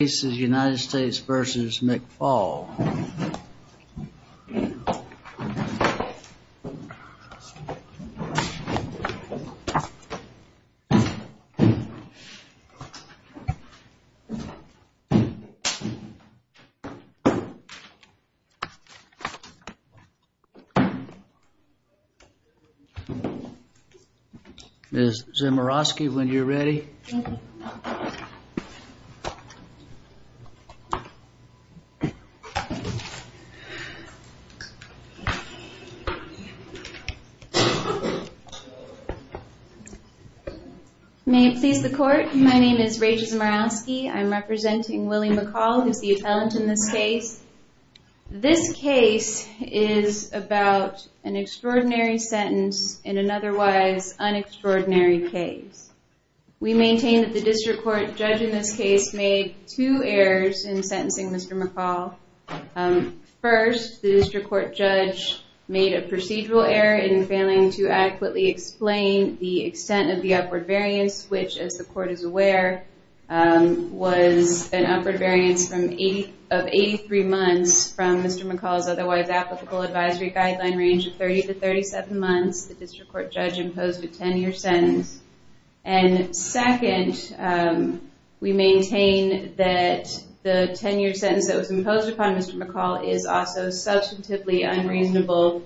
This is United States v. McFaul. Ms. Zemiroski, when you're ready. Ms. Zemiroski May it please the court, my name is Rachel Zemiroski. I'm representing Willie McCall, who's the appellant in this case. This case is about an extraordinary sentence in an otherwise un-extraordinary case. We maintain that the district court judge in this case made two errors in sentencing Mr. McCall. First, the district court judge made a procedural error in failing to adequately explain the extent of the upward variance, which, as the court is aware, was an upward variance of 83 months from Mr. McCall's otherwise applicable advisory guideline range of 30 to 37 months. The district court judge imposed a 10-year sentence. And second, we maintain that the 10-year sentence that was imposed upon Mr. McCall is also substantively unreasonable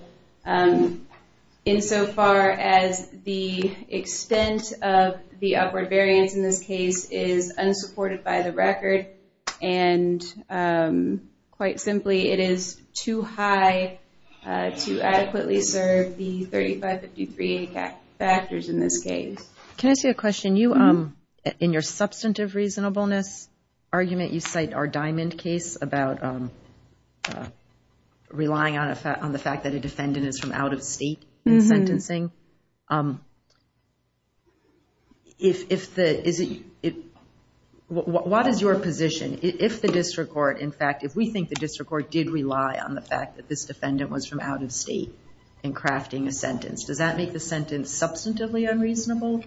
insofar as the extent of the upward variance in this case is unsupported by the record. And quite simply, it is too high to adequately serve the 3553 factors in this case. Can I ask you a question? In your substantive reasonableness argument, you cite our Diamond case about relying on the fact that a defendant is from out-of-state in sentencing. What is your position if the district court, in fact, if we think the district court did rely on the fact that this defendant was from out-of-state in crafting a sentence, does that make the sentence substantively unreasonable?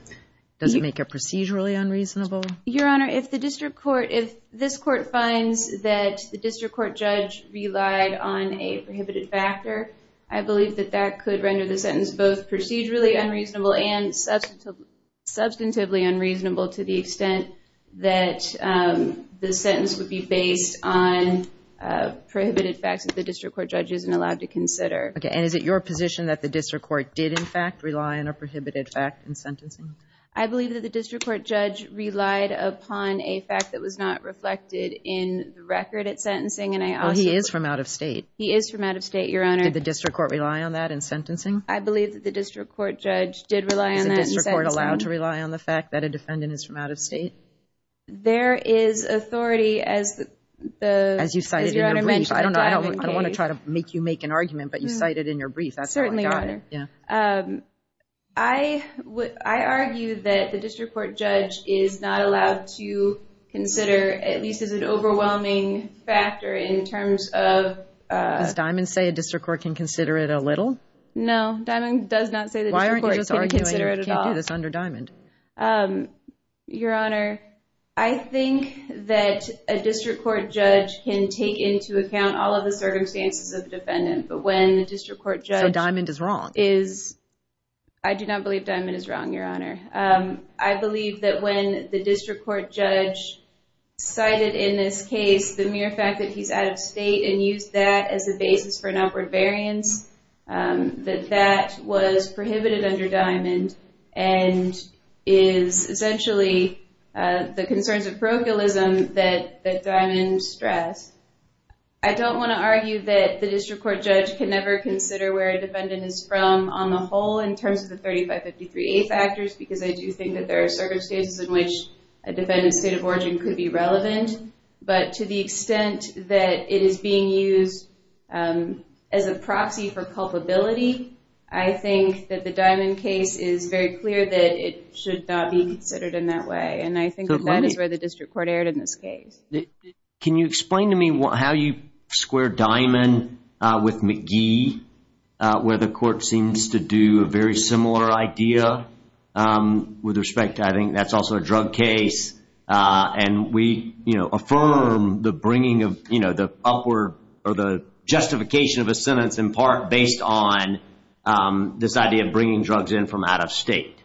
Does it make it procedurally unreasonable? Your Honor, if the district court, if this court finds that the district court judge relied on a prohibited factor, I believe that that could render the sentence both procedurally unreasonable and substantively unreasonable to the extent that the sentence would be based on prohibited facts that the district court judge isn't allowed to consider. Okay, and is it your position that the district court did, in fact, rely on a prohibited fact in sentencing? I believe that the district court judge relied upon a fact that was not reflected in the record at sentencing, and I also... Well, he is from out-of-state. He is from out-of-state, Your Honor. Did the district court rely on that in sentencing? I believe that the district court judge did rely on that in sentencing. Is the district court allowed to rely on the fact that a defendant is from out-of-state? There is authority as the... As you cited in your brief. I don't know. I don't want to try to make you make an argument, but you cited in your brief. That's how I got it. Certainly, Your Honor. Yeah. I argue that the district court judge is not allowed to consider, at least as an overwhelming factor in terms of... Does Diamond say a district court can consider it a little? No, Diamond does not say the district court can consider it at all. Why aren't you just arguing you can't do this under Diamond? Your Honor, I think that a district court judge can take into account all of the circumstances of the defendant. But when the district court judge... So, Diamond is wrong? I do not believe Diamond is wrong, Your Honor. I believe that when the district court judge cited in this case the mere fact that he's out-of-state and used that as a basis for an upward variance, that that was prohibited under Diamond. And is essentially the concerns of parochialism that Diamond stressed. I don't want to argue that the district court judge can never consider where a defendant is from on the whole in terms of the 3553A factors, because I do think that there are circumstances in which a defendant's state of origin could be relevant. But to the extent that it is being used as a proxy for culpability, I think that the Diamond case is very clear that it should not be considered in that way. And I think that is where the district court erred in this case. Can you explain to me how you square Diamond with McGee, where the court seems to do a very similar idea? With respect, I think that's also a drug case. And we affirm the justification of a sentence in part based on this idea of bringing drugs in from out-of-state.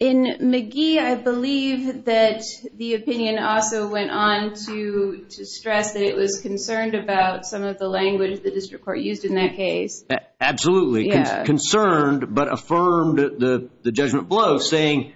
In McGee, I believe that the opinion also went on to stress that it was concerned about some of the language the district court used in that case. Absolutely. Concerned, but affirmed the judgment below, saying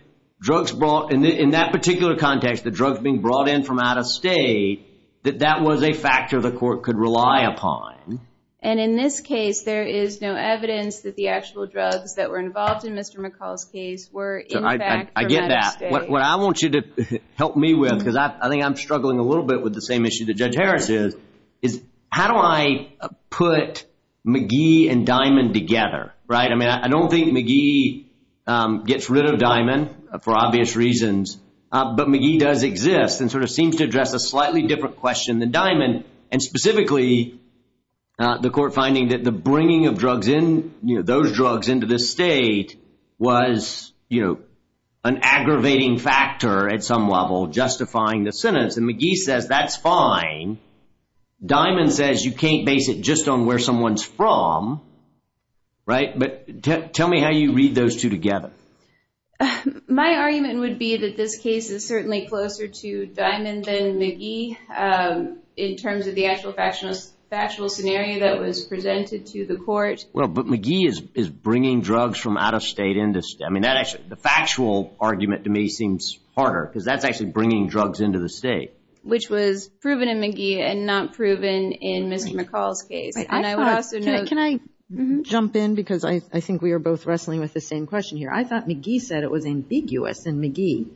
in that particular context, the drugs being brought in from out-of-state, that that was a factor the court could rely upon. And in this case, there is no evidence that the actual drugs that were involved in Mr. McCall's case were in fact from out-of-state. I get that. What I want you to help me with, because I think I'm struggling a little bit with the same issue that Judge Harris is, is how do I put McGee and Diamond together, right? I mean, I don't think McGee gets rid of Diamond for obvious reasons. But McGee does exist and sort of seems to address a slightly different question than Diamond. And specifically, the court finding that the bringing of drugs in, you know, those drugs into the state was, you know, an aggravating factor at some level justifying the sentence. And McGee says that's fine. Diamond says you can't base it just on where someone's from, right? But tell me how you read those two together. My argument would be that this case is certainly closer to Diamond than McGee in terms of the actual factual scenario that was presented to the court. Well, but McGee is bringing drugs from out-of-state into state. I mean, the factual argument to me seems harder, because that's actually bringing drugs into the state. Which was proven in McGee and not proven in Mr. McCall's case. And I would also note- Can I jump in? Because I think we are both wrestling with the same question here. I thought McGee said it was ambiguous in McGee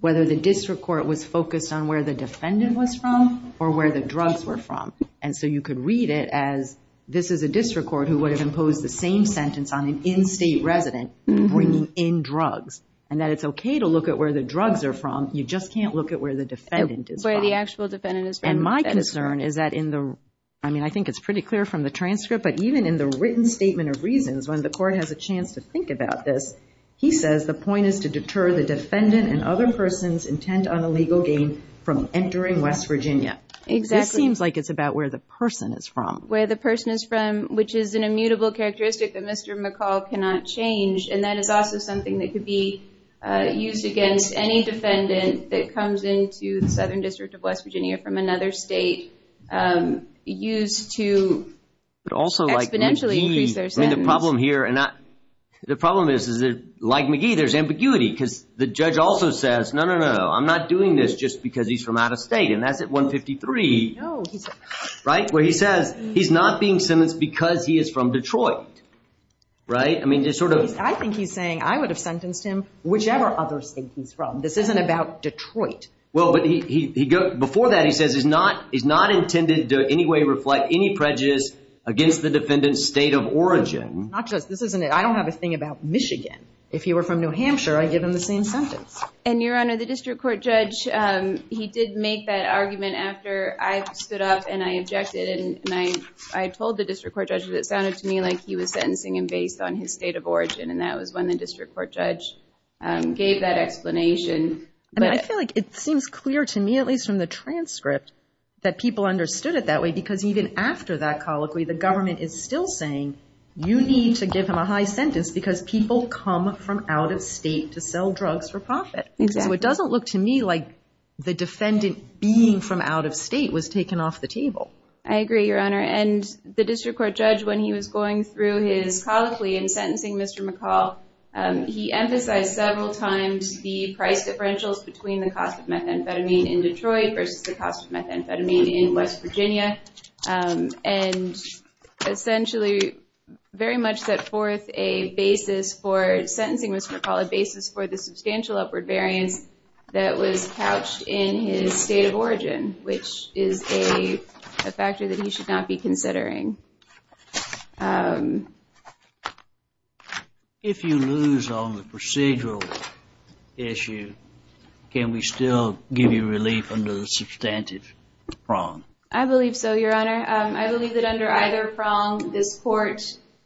whether the district court was focused on where the defendant was from or where the drugs were from. And so you could read it as this is a district court who would have imposed the same sentence on an in-state resident bringing in drugs. And that it's okay to look at where the drugs are from. You just can't look at where the defendant is from. Where the actual defendant is from. And my concern is that in the- I mean, I think it's pretty clear from the transcript. But even in the written statement of reasons, when the court has a chance to think about this, he says the point is to deter the defendant and other person's intent on a legal gain from entering West Virginia. Exactly. This seems like it's about where the person is from. Where the person is from, which is an immutable characteristic that Mr. McCall cannot change. And that is also something that could be used against any defendant that comes into the Southern District of West Virginia from another state. Used to exponentially increase their sentence. But also like McGee, the problem here- The problem is that like McGee, there's ambiguity. Because the judge also says, no, no, no. I'm not doing this just because he's from out of state. And that's at 153. No, he's- Right? Where he says he's not being sentenced because he is from Detroit. Right? I mean, it's sort of- I think he's saying I would have sentenced him whichever other state he's from. This isn't about Detroit. Well, but he- before that, he says he's not intended to in any way reflect any prejudice against the defendant's state of origin. Not just- this isn't- I don't have a thing about Michigan. If he were from New Hampshire, I'd give him the same sentence. And, Your Honor, the district court judge, he did make that argument after I stood up and I objected. And I told the district court judge that it sounded to me like he was sentencing him based on his state of origin. And that was when the district court judge gave that explanation. I mean, I feel like it seems clear to me, at least from the transcript, that people understood it that way. Because even after that colloquy, the government is still saying, you need to give him a high sentence because people come from out of state to sell drugs for profit. So it doesn't look to me like the defendant being from out of state was taken off the table. I agree, Your Honor. And the district court judge, when he was going through his colloquy and sentencing Mr. McCall, he emphasized several times the price differentials between the cost of methamphetamine in Detroit versus the cost of methamphetamine in West Virginia. And essentially very much set forth a basis for sentencing Mr. McCall, a basis for the substantial upward variance that was couched in his state of origin, which is a factor that he should not be considering. If you lose on the procedural issue, can we still give you relief under the substantive prong? I believe so, Your Honor. I believe that under either prong, this court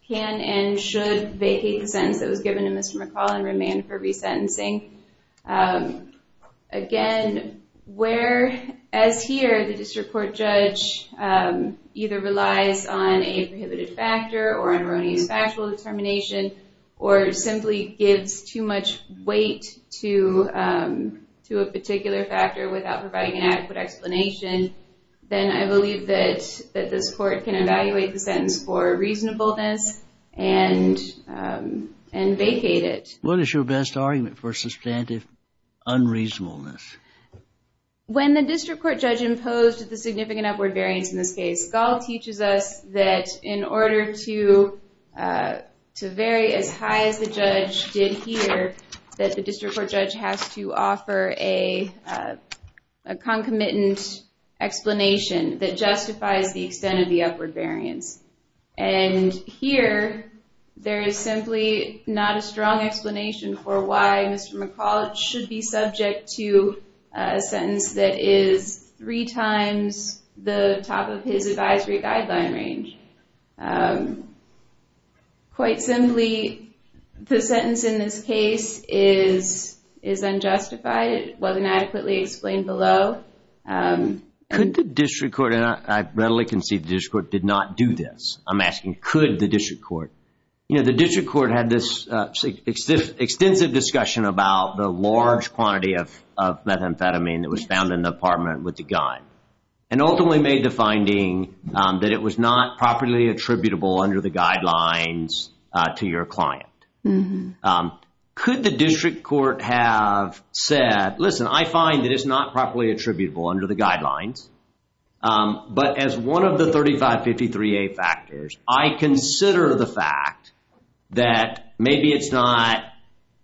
can and should vacate the sentence that was given to Mr. McCall and remand for resentencing. Again, whereas here the district court judge either relies on a prohibited factor or on erroneous factual determination or simply gives too much weight to a particular factor without providing an adequate explanation, then I believe that this court can evaluate the sentence for reasonableness and vacate it. What is your best argument for substantive unreasonableness? When the district court judge imposed the significant upward variance in this case, Gall teaches us that in order to vary as high as the judge did here, that the district court judge has to offer a concomitant explanation that justifies the extent of the upward variance. And here, there is simply not a strong explanation for why Mr. McCall should be subject to a sentence that is three times the top of his advisory guideline range. Quite simply, the sentence in this case is unjustified. It wasn't adequately explained below. Could the district court, and I readily concede the district court did not do this. I'm asking, could the district court? The district court had this extensive discussion about the large quantity of methamphetamine that was found in the apartment with the guy. And ultimately made the finding that it was not properly attributable under the guidelines to your client. Could the district court have said, listen, I find that it's not properly attributable under the guidelines. But as one of the 3553A factors, I consider the fact that maybe it's not,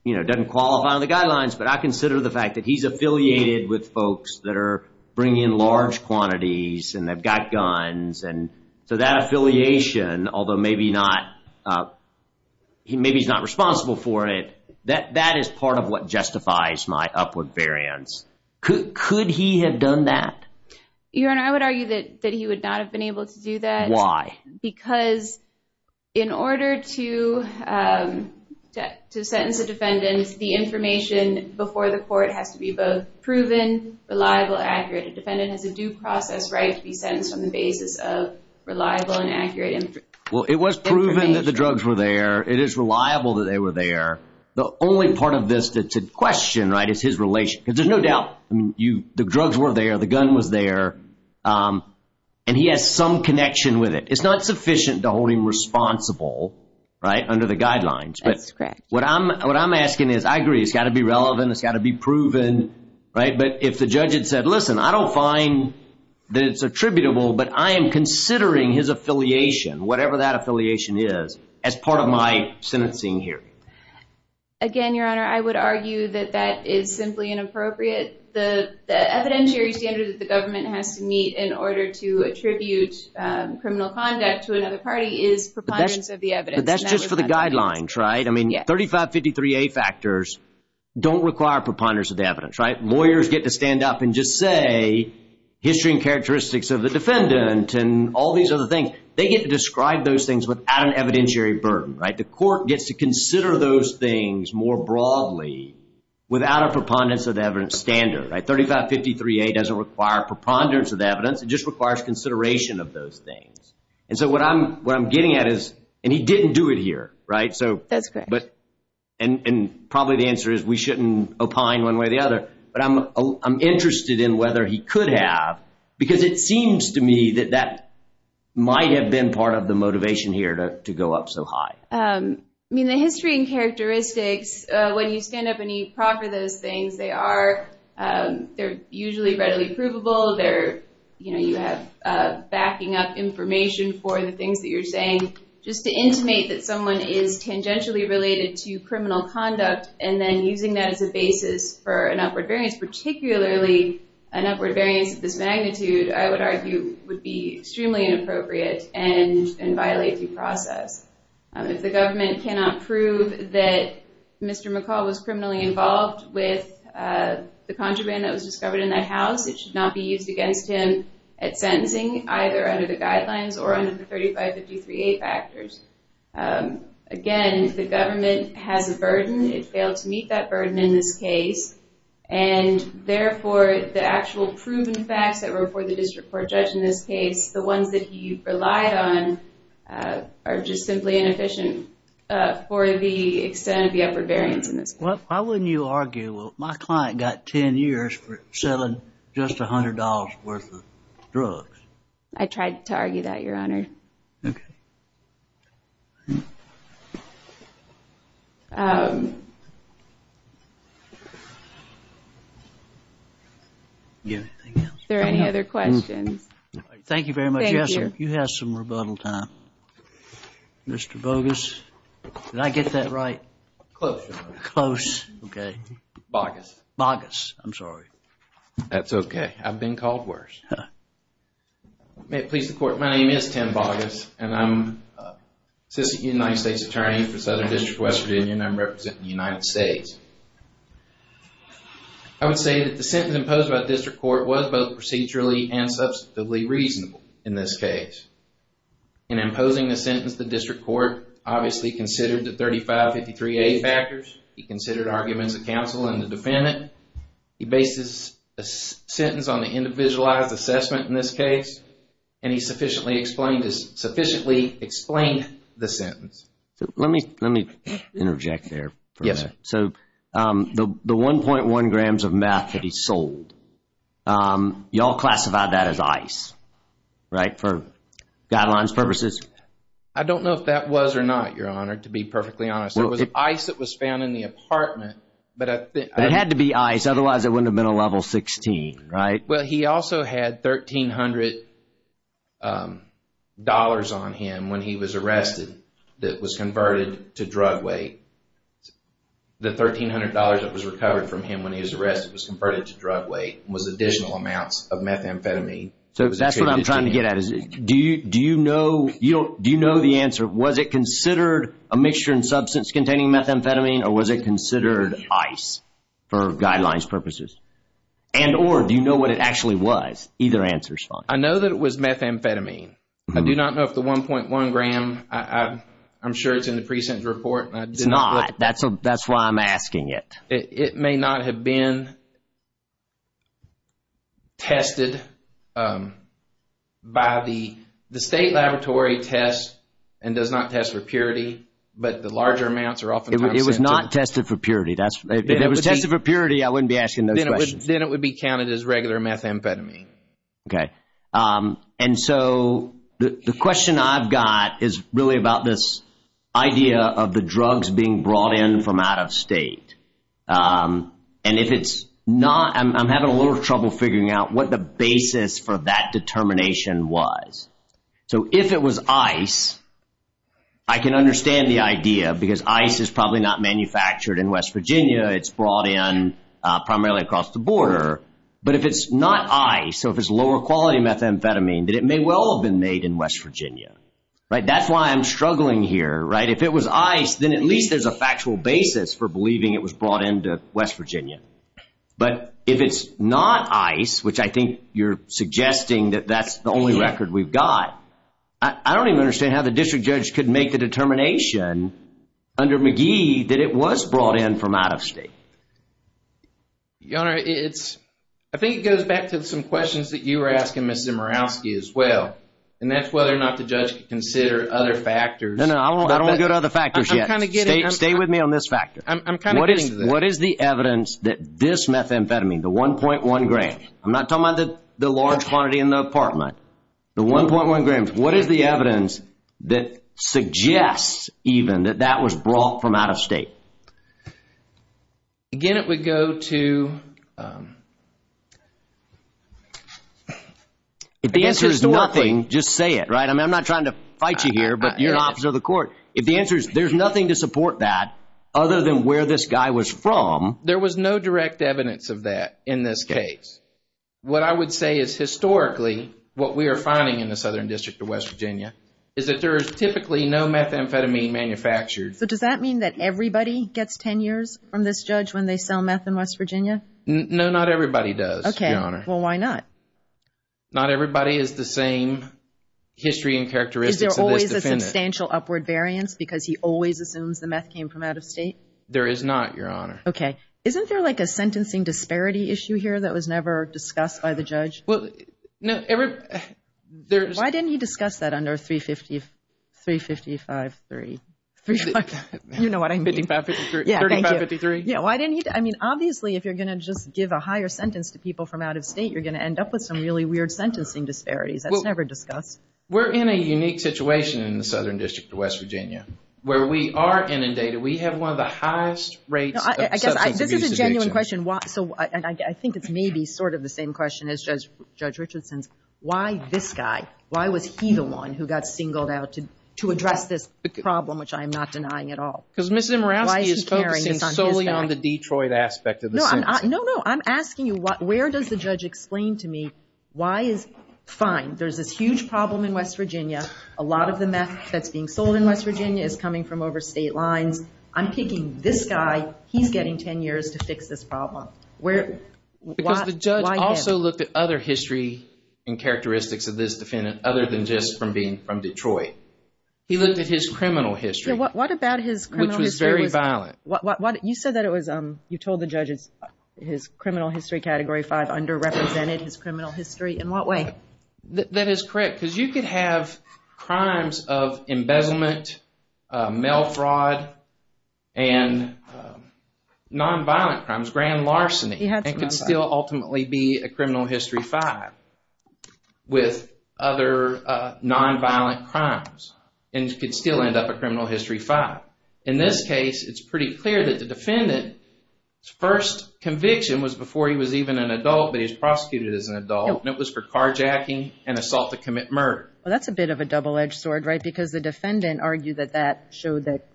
you know, doesn't qualify on the guidelines, but I consider the fact that he's affiliated with folks that are bringing large quantities and they've got guns. And so that affiliation, although maybe he's not responsible for it, that is part of what justifies my upward variance. Could he have done that? Your Honor, I would argue that he would not have been able to do that. Why? Because in order to sentence a defendant, the information before the court has to be both proven, reliable, accurate. A defendant has a due process right to be sentenced on the basis of reliable and accurate information. Well, it was proven that the drugs were there. It is reliable that they were there. The only part of this to question, right, is his relation. Because there's no doubt the drugs were there, the gun was there, and he has some connection with it. It's not sufficient to hold him responsible, right, under the guidelines. That's correct. What I'm asking is, I agree, it's got to be relevant, it's got to be proven, right, but if the judge had said, listen, I don't find that it's attributable, but I am considering his affiliation, whatever that affiliation is, as part of my sentencing hearing. Again, Your Honor, I would argue that that is simply inappropriate. The evidentiary standard that the government has to meet in order to attribute criminal conduct to another party is preponderance of the evidence. But that's just for the guidelines, right? I mean, 3553A factors don't require preponderance of the evidence, right? Lawyers get to stand up and just say history and characteristics of the defendant and all these other things. They get to describe those things without an evidentiary burden, right? The court gets to consider those things more broadly without a preponderance of the evidence standard, right? 3553A doesn't require preponderance of the evidence, it just requires consideration of those things. And so what I'm getting at is, and he didn't do it here, right? That's correct. And probably the answer is we shouldn't opine one way or the other, but I'm interested in whether he could have, because it seems to me that that might have been part of the motivation here to go up so high. I mean, the history and characteristics, when you stand up and you proffer those things, they're usually readily provable. You have backing up information for the things that you're saying. Just to intimate that someone is tangentially related to criminal conduct and then using that as a basis for an upward variance, particularly an upward variance of this magnitude, I would argue, would be extremely inappropriate and violate due process. If the government cannot prove that Mr. McCall was criminally involved with the contraband that was discovered in that house, it should not be used against him at sentencing, either under the guidelines or under the 3553A factors. Again, the government has a burden. It failed to meet that burden in this case, and therefore the actual proven facts that were before the district court judge in this case, the ones that he relied on, are just simply inefficient for the extent of the upward variance in this case. Why wouldn't you argue, well, my client got 10 years for selling just $100 worth of drugs? I tried to argue that, Your Honor. Okay. Is there any other questions? Thank you very much. Yes, sir. You have some rebuttal time. Mr. Bogus, did I get that right? Close, Your Honor. Close, okay. Bogus. Bogus. I'm sorry. That's okay. I've been called worse. May it please the Court, my name is Tim Bogus, and I'm Assistant United States Attorney for Southern District of Western Virginia, and I'm representing the United States. I would say that the sentence imposed by the district court was both procedurally and substantively reasonable in this case. In imposing the sentence, the district court obviously considered the 3553A factors. He considered arguments of counsel and the defendant. He bases a sentence on the individualized assessment in this case, and he sufficiently explained the sentence. Let me interject there. Yes. So the 1.1 grams of meth that he sold, you all classified that as ice, right, for guidelines purposes? I don't know if that was or not, Your Honor, to be perfectly honest. It was ice that was found in the apartment. It had to be ice, otherwise it wouldn't have been a level 16, right? Well, he also had $1,300 on him when he was arrested that was converted to drug weight. The $1,300 that was recovered from him when he was arrested was converted to drug weight and was additional amounts of methamphetamine. So that's what I'm trying to get at. Do you know the answer? Was it considered a mixture in substance containing methamphetamine, or was it considered ice for guidelines purposes? And or do you know what it actually was? Either answer is fine. I know that it was methamphetamine. I do not know if the 1.1 gram, I'm sure it's in the precinct report. It's not. That's why I'm asking it. It may not have been tested. The state laboratory tests and does not test for purity, but the larger amounts are often tested. It was not tested for purity. If it was tested for purity, I wouldn't be asking those questions. Then it would be counted as regular methamphetamine. Okay. And so the question I've got is really about this idea of the drugs being brought in from out of state. And if it's not, I'm having a little trouble figuring out what the basis for that determination was. So if it was ice, I can understand the idea because ice is probably not manufactured in West Virginia. It's brought in primarily across the border. But if it's not ice, so if it's lower quality methamphetamine, then it may well have been made in West Virginia. That's why I'm struggling here. If it was ice, then at least there's a factual basis for believing it was brought into West Virginia. But if it's not ice, which I think you're suggesting that that's the only record we've got, I don't even understand how the district judge could make the determination under McGee that it was brought in from out of state. Your Honor, I think it goes back to some questions that you were asking Ms. Zimerowski as well. And that's whether or not the judge could consider other factors. No, no, I don't want to go to other factors yet. Stay with me on this factor. What is the evidence that this methamphetamine, the 1.1 gram, I'm not talking about the large quantity in the apartment, the 1.1 grams, what is the evidence that suggests even that that was brought from out of state? Again, it would go to... If the answer is nothing, just say it, right? I'm not trying to fight you here, but you're an officer of the court. If the answer is there's nothing to support that other than where this guy was from... There was no direct evidence of that in this case. What I would say is historically what we are finding in the Southern District of West Virginia is that there is typically no methamphetamine manufactured. So does that mean that everybody gets 10 years from this judge when they sell meth in West Virginia? No, not everybody does, Your Honor. Well, why not? Not everybody is the same history and characteristics of this defendant. Is there always a substantial upward variance because he always assumes the meth came from out of state? There is not, Your Honor. Okay. Isn't there like a sentencing disparity issue here that was never discussed by the judge? Why didn't he discuss that under 353? You know what I mean. 3553. Yeah, thank you. Yeah, why didn't he? I mean, obviously, if you're going to just give a higher sentence to people from out of state, you're going to end up with some really weird sentencing disparities. That's never discussed. We're in a unique situation in the Southern District of West Virginia where we are inundated. We have one of the highest rates of substance abuse addiction. I think it's maybe sort of the same question as Judge Richardson's. Why this guy? Why was he the one who got singled out to address this problem, which I am not denying at all? Because Ms. Imorowski is focusing solely on the Detroit aspect of the sentence. No, no. I'm asking you where does the judge explain to me why is fine. There's this huge problem in West Virginia. A lot of the meth that's being sold in West Virginia is coming from overstate lines. I'm picking this guy. He's getting 10 years to fix this problem. Because the judge also looked at other history and characteristics of this defendant other than just from being from Detroit. He looked at his criminal history. Yeah, what about his criminal history? Which was very violent. You said that it was, you told the judges his criminal history, Category 5, underrepresented his criminal history. In what way? That is correct. Because you could have crimes of embezzlement, mail fraud, and nonviolent crimes, grand larceny. It could still ultimately be a criminal history 5 with other nonviolent crimes. And you could still end up a criminal history 5. In this case, it's pretty clear that the defendant's first conviction was before he was even an adult, but he was prosecuted as an adult, and it was for carjacking and assault to commit murder. Well, that's a bit of a double-edged sword, right? Because the defendant argued that that showed that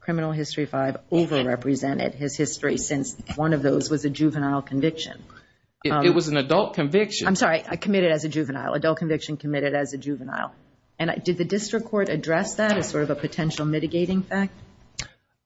criminal history 5 overrepresented his history since one of those was a juvenile conviction. It was an adult conviction. I'm sorry, committed as a juvenile. Adult conviction committed as a juvenile. And did the district court address that as sort of a potential mitigating fact?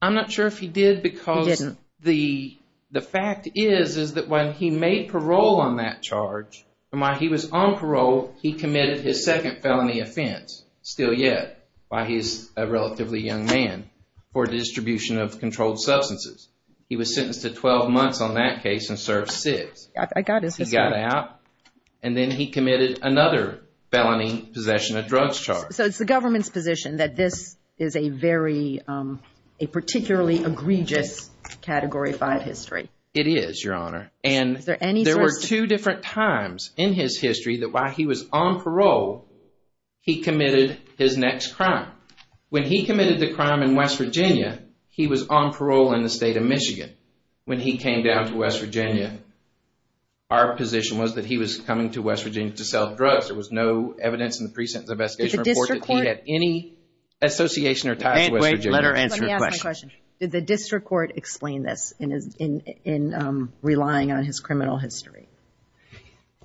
I'm not sure if he did because the fact is is that when he made parole on that charge, and while he was on parole, he committed his second felony offense, still yet, while he was a relatively young man, for distribution of controlled substances. He was sentenced to 12 months on that case and served six. I got his history. He got out, and then he committed another felony, possession of drugs charge. So it's the government's position that this is a particularly egregious category 5 history. It is, Your Honor. And there were two different times in his history that while he was on parole, he committed his next crime. When he committed the crime in West Virginia, he was on parole in the state of Michigan. When he came down to West Virginia, our position was that he was coming to West Virginia to sell drugs. There was no evidence in the pre-sentence investigation report that he had any association or ties to West Virginia. Let her answer her question. Did the district court explain this in relying on his criminal history?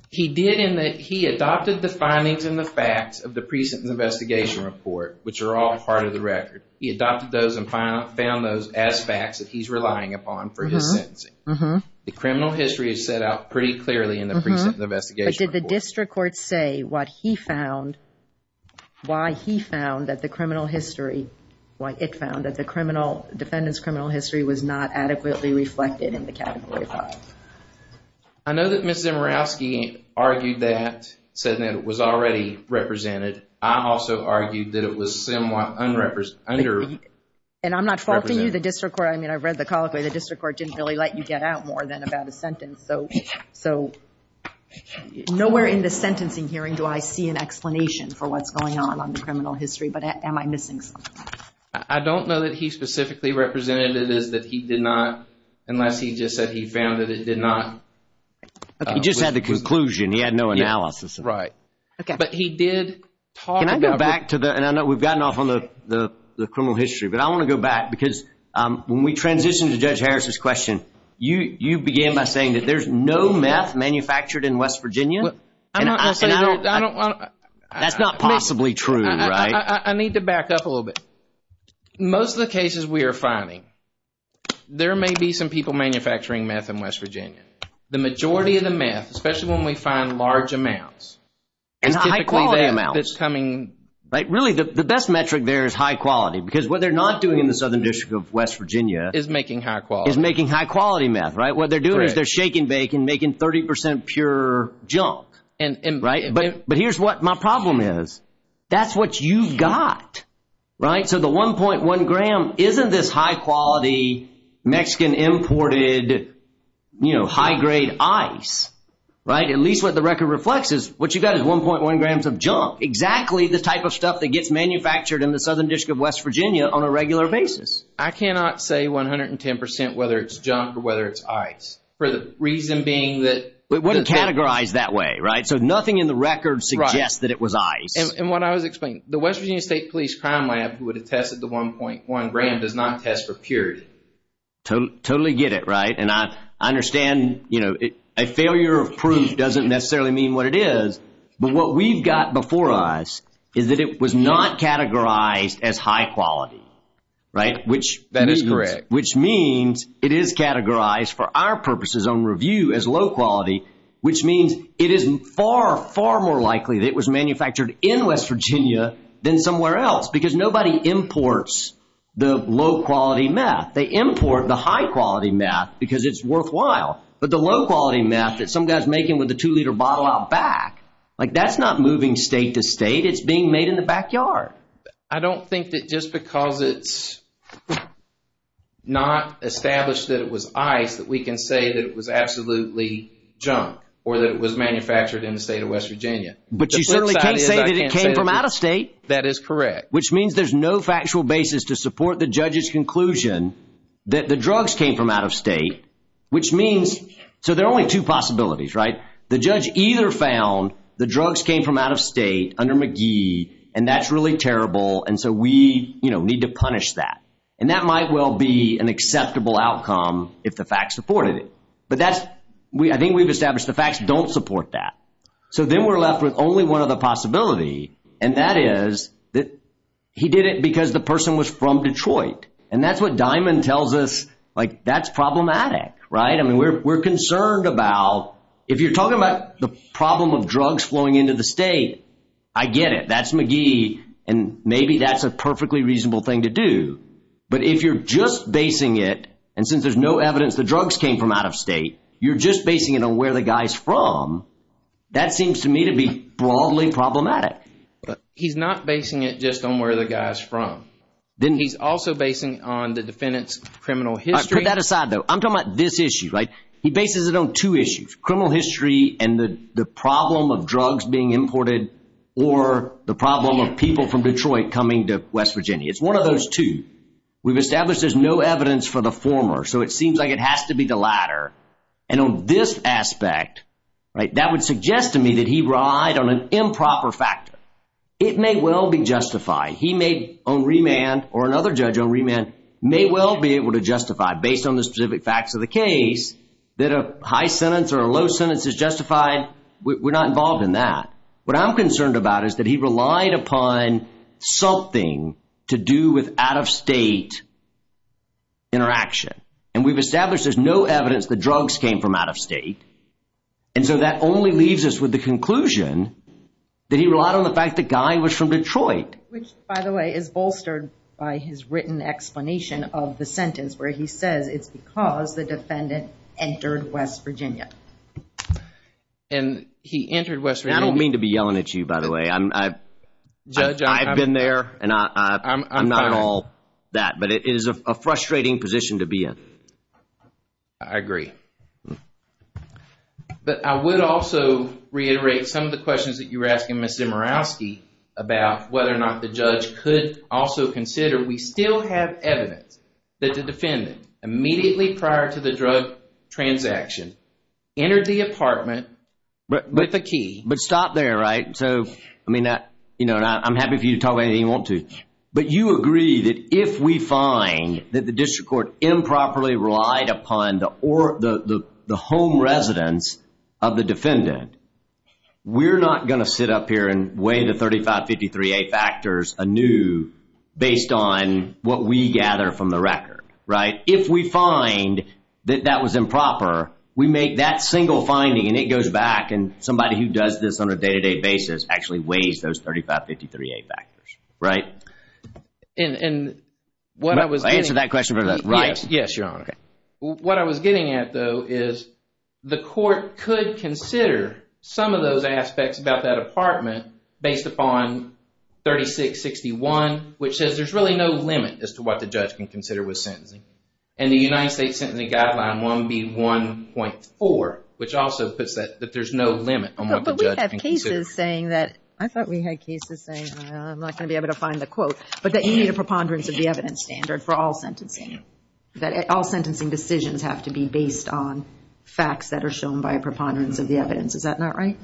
He did in that he adopted the findings and the facts of the pre-sentence investigation report, which are all part of the record. He adopted those and found those as facts that he's relying upon for his sentencing. The criminal history is set out pretty clearly in the pre-sentence investigation report. But did the district court say what he found, why he found that the criminal history, why it found that the defendant's criminal history was not adequately reflected in the category 5? I know that Ms. Zimerowski argued that, said that it was already represented. I also argued that it was somewhat underrepresented. And I'm not faulting you. The district court, I mean, I've read the colloquy. The district court didn't really let you get out more than about a sentence. So nowhere in the sentencing hearing do I see an explanation for what's going on on the criminal history. But am I missing something? I don't know that he specifically represented it as that he did not, unless he just said he found that it did not. He just had the conclusion. He had no analysis. But he did talk about it. Can I go back to the, and I know we've gotten off on the criminal history, but I want to go back because when we transitioned to Judge Harris's question, you began by saying that there's no meth manufactured in West Virginia. I'm not going to say that. That's not possibly true, right? I need to back up a little bit. Most of the cases we are finding, there may be some people manufacturing meth in West Virginia. The majority of the meth, especially when we find large amounts, is typically that that's coming. Really, the best metric there is high quality because what they're not doing in the Southern District of West Virginia. Is making high quality. Is making high quality meth, right? What they're doing is they're shaking bacon, making 30 percent pure junk, right? But here's what my problem is. That's what you've got, right? So the 1.1 gram isn't this high quality Mexican imported, you know, high grade ice, right? At least what the record reflects is what you've got is 1.1 grams of junk. Exactly the type of stuff that gets manufactured in the Southern District of West Virginia on a regular basis. I cannot say 110 percent whether it's junk or whether it's ice. For the reason being that. It wouldn't categorize that way, right? So nothing in the record suggests that it was ice. And what I was explaining, the West Virginia State Police Crime Lab who would have tested the 1.1 gram does not test for purity. Totally get it, right? And I understand, you know, a failure of proof doesn't necessarily mean what it is. But what we've got before us is that it was not categorized as high quality, right? Which means. That is correct. Which means it is far, far more likely that it was manufactured in West Virginia than somewhere else. Because nobody imports the low quality meth. They import the high quality meth because it's worthwhile. But the low quality meth that some guy's making with a two liter bottle out back. Like that's not moving state to state. It's being made in the backyard. I don't think that just because it's not established that it was ice that we can say that it was absolutely junk. Or that it was manufactured in the state of West Virginia. But you certainly can't say that it came from out of state. That is correct. Which means there's no factual basis to support the judge's conclusion that the drugs came from out of state. Which means. So there are only two possibilities, right? The judge either found the drugs came from out of state under McGee. And that's really terrible. And so we, you know, need to punish that. And that might well be an acceptable outcome if the facts supported it. But that's. I think we've established the facts don't support that. So then we're left with only one other possibility. And that is that he did it because the person was from Detroit. And that's what Diamond tells us. Like that's problematic, right? I mean, we're concerned about. If you're talking about the problem of drugs flowing into the state. I get it. That's McGee. And maybe that's a perfectly reasonable thing to do. But if you're just basing it. And since there's no evidence the drugs came from out of state. You're just basing it on where the guy's from. That seems to me to be broadly problematic. He's not basing it just on where the guy's from. He's also basing it on the defendant's criminal history. Put that aside though. I'm talking about this issue, right? He bases it on two issues. Criminal history and the problem of drugs being imported. Or the problem of people from Detroit coming to West Virginia. It's one of those two. We've established there's no evidence for the former. So it seems like it has to be the latter. And on this aspect. That would suggest to me that he relied on an improper factor. It may well be justified. He may on remand or another judge on remand. May well be able to justify based on the specific facts of the case. That a high sentence or a low sentence is justified. We're not involved in that. What I'm concerned about is that he relied upon something. To do with out of state interaction. And we've established there's no evidence the drugs came from out of state. And so that only leaves us with the conclusion. That he relied on the fact the guy was from Detroit. Which by the way is bolstered by his written explanation of the sentence. Where he says it's because the defendant entered West Virginia. And he entered West Virginia. I don't mean to be yelling at you by the way. I've been there. And I'm not at all that. But it is a frustrating position to be in. I agree. But I would also reiterate some of the questions that you were asking. About whether or not the judge could also consider. We still have evidence that the defendant. Immediately prior to the drug transaction. Entered the apartment. But the key. But stop there right. I'm happy for you to talk about anything you want to. But you agree that if we find. That the district court improperly relied upon. The home residence of the defendant. We're not going to sit up here and weigh the 3553A factors anew. Based on what we gather from the record. Right. If we find that that was improper. We make that single finding. And it goes back. And somebody who does this on a day to day basis. Actually weighs those 3553A factors. Right. And what I was. I answered that question. Right. Yes your honor. What I was getting at though. Is the court could consider. Some of those aspects about that apartment. Based upon 3661. Which says there's really no limit. As to what the judge can consider with sentencing. And the United States sentencing guideline 1B1.4. Which also puts that there's no limit. But we have cases saying that. I thought we had cases saying. I'm not going to be able to find the quote. But that you need a preponderance of the evidence standard. For all sentencing. That all sentencing decisions have to be based on. Facts that are shown by a preponderance of the evidence. Is that not right?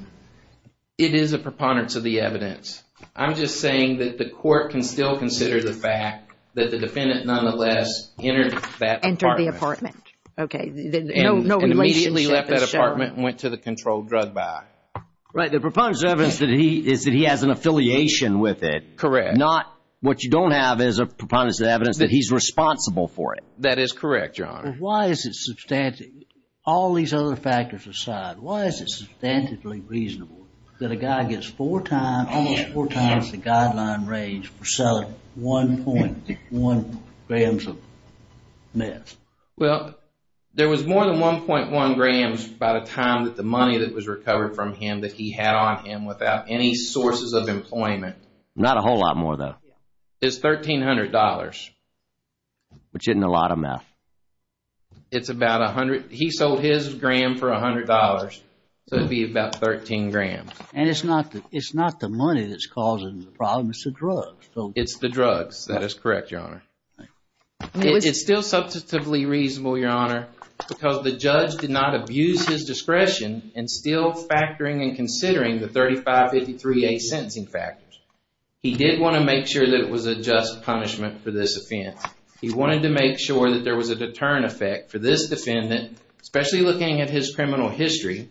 It is a preponderance of the evidence. I'm just saying that the court can still consider the fact. That the defendant nonetheless. Entered that apartment. Entered the apartment. Okay. And immediately left that apartment. And went to the controlled drug buy. Right. The preponderance of evidence. Is that he has an affiliation with it. Correct. Not what you don't have is a preponderance of evidence. That he's responsible for it. That is correct, Your Honor. Why is it substantive. All these other factors aside. Why is it substantively reasonable. That a guy gets four times. Almost four times the guideline range. For selling 1.1 grams of meth. Well. There was more than 1.1 grams. By the time that the money that was recovered from him. That he had on him. Without any sources of employment. Not a whole lot more though. It's $1,300. Which isn't a lot of meth. It's about a hundred. He sold his gram for $100. So it would be about 13 grams. And it's not the money that's causing the problem. It's the drugs. It's the drugs. That is correct, Your Honor. It's still substantively reasonable, Your Honor. Because the judge did not abuse his discretion. And still factoring and considering the 3553A sentencing factors. He did want to make sure that it was a just punishment for this offense. He wanted to make sure that there was a deterrent effect for this defendant. Especially looking at his criminal history.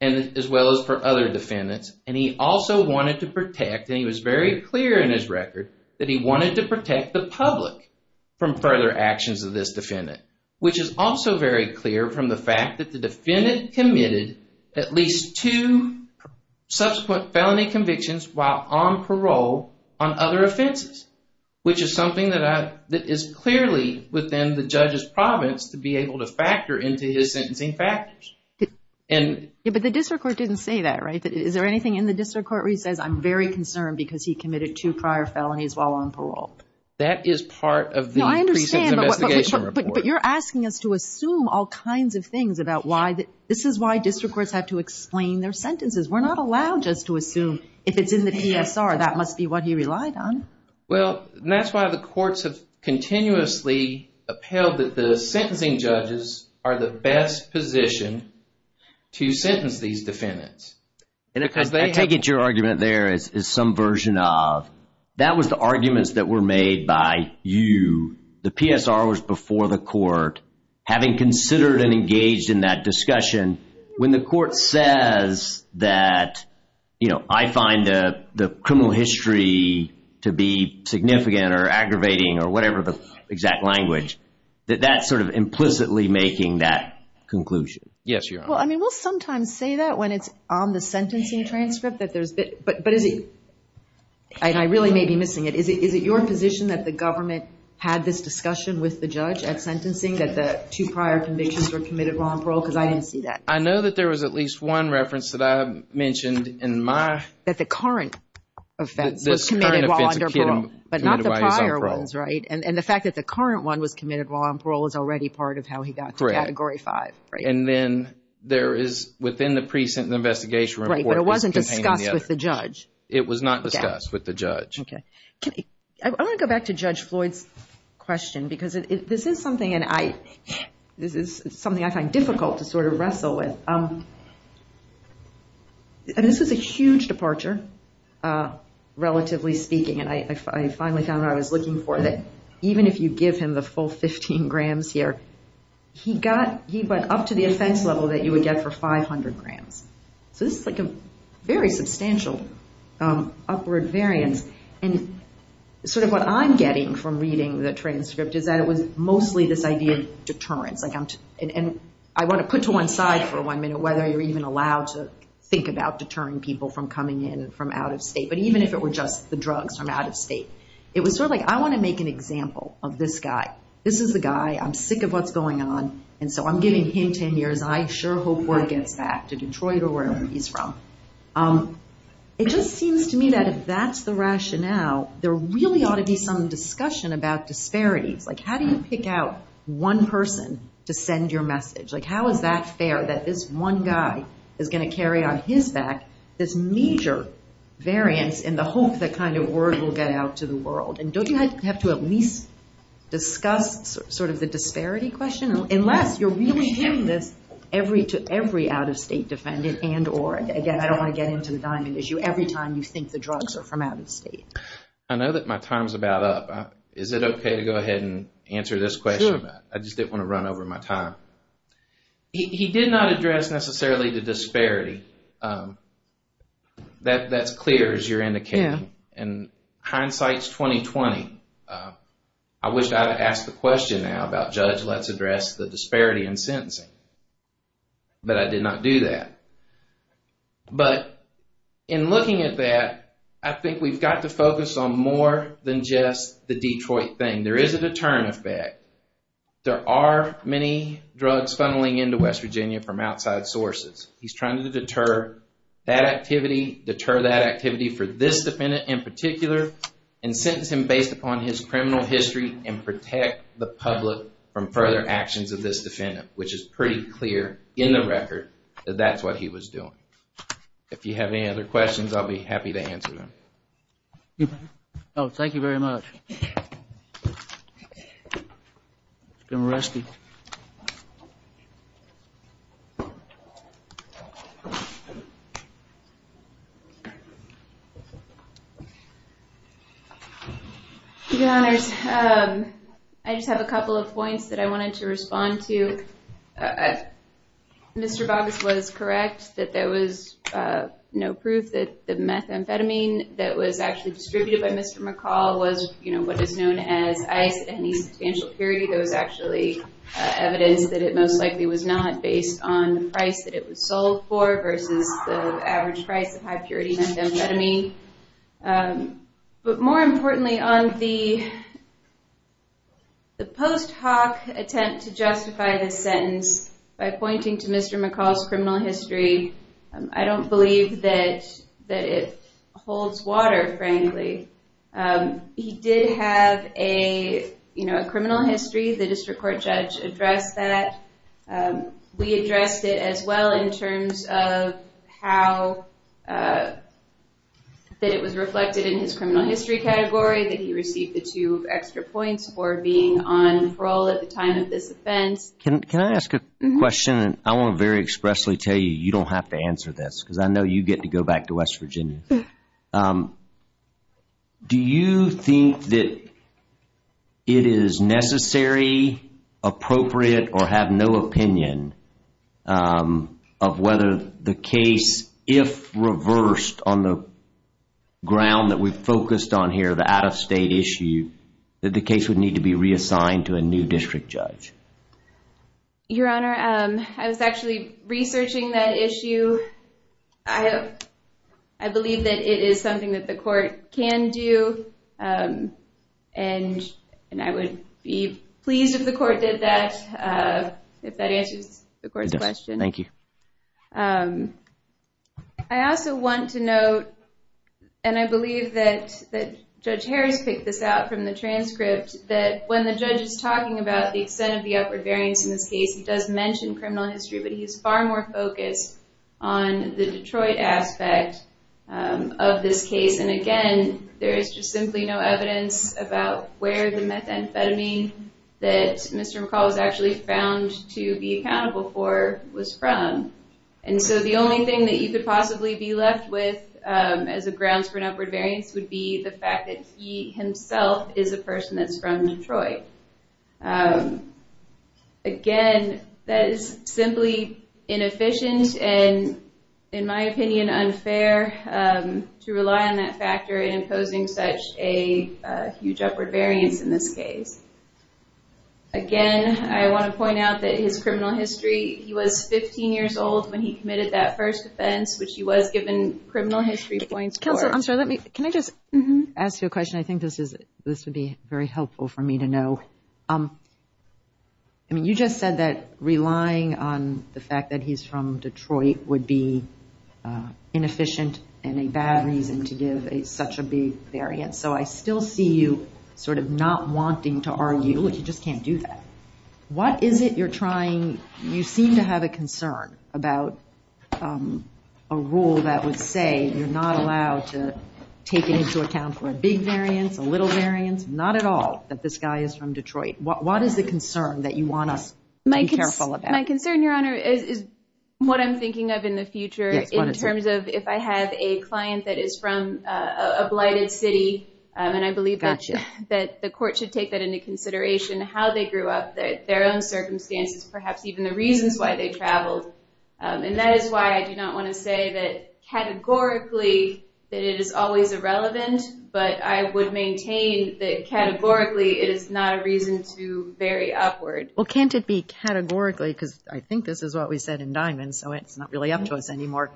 And as well as for other defendants. And he also wanted to protect. And he was very clear in his record. That he wanted to protect the public. From further actions of this defendant. Which is also very clear from the fact that the defendant committed. At least two subsequent felony convictions while on parole. On other offenses. Which is something that is clearly within the judge's province. To be able to factor into his sentencing factors. But the district court didn't say that, right? Is there anything in the district court where he says I'm very concerned. Because he committed two prior felonies while on parole. That is part of the recent investigation report. But you're asking us to assume all kinds of things. This is why district courts have to explain their sentences. We're not allowed just to assume if it's in the PSR. That must be what he relied on. Well, that's why the courts have continuously upheld. That the sentencing judges are the best position to sentence these defendants. I take it your argument there is some version of. That was the arguments that were made by you. The PSR was before the court. Having considered and engaged in that discussion. When the court says that I find the criminal history to be significant. Or aggravating or whatever the exact language. That that's sort of implicitly making that conclusion. Yes, Your Honor. Well, I mean we'll sometimes say that when it's on the sentencing transcript. But is it. And I really may be missing it. Is it your position that the government had this discussion with the judge. At sentencing that the two prior convictions were committed while on parole. Because I didn't see that. I know that there was at least one reference that I mentioned in my. That the current offense was committed while under parole. But not the prior ones, right. And the fact that the current one was committed while on parole. Is already part of how he got to Category 5. And then there is within the present investigation report. But it wasn't discussed with the judge. It was not discussed with the judge. I want to go back to Judge Floyd's question. Because this is something and I. This is something I find difficult to sort of wrestle with. And this was a huge departure. Relatively speaking. And I finally found what I was looking for. That even if you give him the full 15 grams here. He got. He went up to the offense level that you would get for 500 grams. So this is like a very substantial upward variance. And sort of what I'm getting from reading the transcript. Is that it was mostly this idea of deterrence. And I want to put to one side for one minute. Whether you're even allowed to think about deterring people from coming in. From out of state. But even if it were just the drugs from out of state. It was sort of like I want to make an example of this guy. This is the guy. I'm sick of what's going on. And so I'm giving him 10 years. I sure hope word gets back to Detroit or wherever he's from. It just seems to me that if that's the rationale. There really ought to be some discussion about disparities. Like how do you pick out one person to send your message. Like how is that fair. That this one guy is going to carry on his back. This major variance in the hope that kind of word will get out to the world. And don't you have to at least discuss sort of the disparity question. Unless you're really giving this to every out of state defendant and or. Again, I don't want to get into the diamond issue. Every time you think the drugs are from out of state. I know that my time is about up. Is it okay to go ahead and answer this question? I just didn't want to run over my time. He did not address necessarily the disparity. That's clear as you're indicating. And hindsight is 20-20. I wish I would ask the question now about judge. Let's address the disparity in sentencing. But I did not do that. But in looking at that. I think we've got to focus on more than just the Detroit thing. There is a deterrent effect. There are many drugs funneling into West Virginia from outside sources. He's trying to deter that activity. Deter that activity for this defendant in particular. And sentence him based upon his criminal history. And protect the public from further actions of this defendant. Which is pretty clear in the record. That that's what he was doing. If you have any other questions, I'll be happy to answer them. Thank you very much. She's been arrested. Your Honors. I just have a couple of points that I wanted to respond to. Mr. Boggess was correct. That there was no proof that the methamphetamine that was actually distributed by Mr. McCall. Was what is known as ice. Any substantial purity. There was actually evidence that it most likely was not. Based on the price that it was sold for. Versus the average price of high purity methamphetamine. But more importantly on the post hoc attempt to justify this sentence. By pointing to Mr. McCall's criminal history. I don't believe that it holds water frankly. He did have a criminal history. The district court judge addressed that. We addressed it as well in terms of how. That it was reflected in his criminal history category. That he received the two extra points for being on parole at the time of this offense. Can I ask a question? I want to very expressly tell you. You don't have to answer this. Because I know you get to go back to West Virginia. Do you think that it is necessary. Appropriate or have no opinion. Of whether the case. If reversed on the ground that we focused on here. The out of state issue. That the case would need to be reassigned to a new district judge. Your honor. I was actually researching that issue. I believe that it is something that the court can do. And I would be pleased if the court did that. If that answers the court's question. Thank you. I also want to note. And I believe that Judge Harris picked this out from the transcript. That when the judge is talking about the extent of the upward variance in this case. He does mention criminal history. But he is far more focused on the Detroit aspect of this case. And again, there is just simply no evidence about where the methamphetamine. That Mr. McCall was actually found to be accountable for was from. And so the only thing that you could possibly be left with. As a grounds for an upward variance. Would be the fact that he himself is a person that is from Detroit. Again, that is simply inefficient. And in my opinion, unfair. To rely on that factor in imposing such a huge upward variance in this case. Again, I want to point out that his criminal history. He was 15 years old when he committed that first offense. Which he was given criminal history points. Counselor, I'm sorry. Can I just ask you a question? I think this would be very helpful for me to know. You just said that relying on the fact that he's from Detroit. Would be inefficient and a bad reason to give such a big variance. So I still see you sort of not wanting to argue. You just can't do that. What is it you're trying. You seem to have a concern about a rule that would say. You're not allowed to take into account for a big variance. A little variance. Not at all. That this guy is from Detroit. What is the concern that you want us to be careful about? My concern, your honor, is what I'm thinking of in the future. In terms of if I have a client that is from a blighted city. And I believe that the court should take that into consideration. How they grew up. Their own circumstances. Perhaps even the reasons why they traveled. And that is why I do not want to say that categorically. That it is always irrelevant. But I would maintain that categorically. It is not a reason to vary upward. Well can't it be categorically. Because I think this is what we said in Diamond. So it's not really up to us anymore.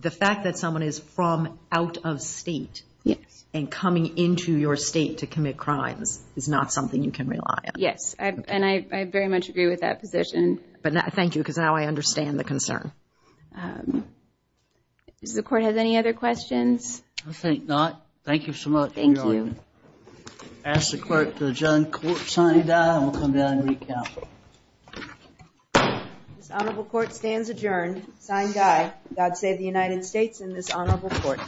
The fact that someone is from out of state. Yes. And coming into your state to commit crimes. Is not something you can rely on. Yes. And I very much agree with that position. Thank you. Because now I understand the concern. Does the court have any other questions? I think not. Thank you so much. Thank you. Ask the clerk to adjourn court. Signed, Dye. And we'll come down and recount. This honorable court stands adjourned. Signed, Dye. God save the United States and this honorable court.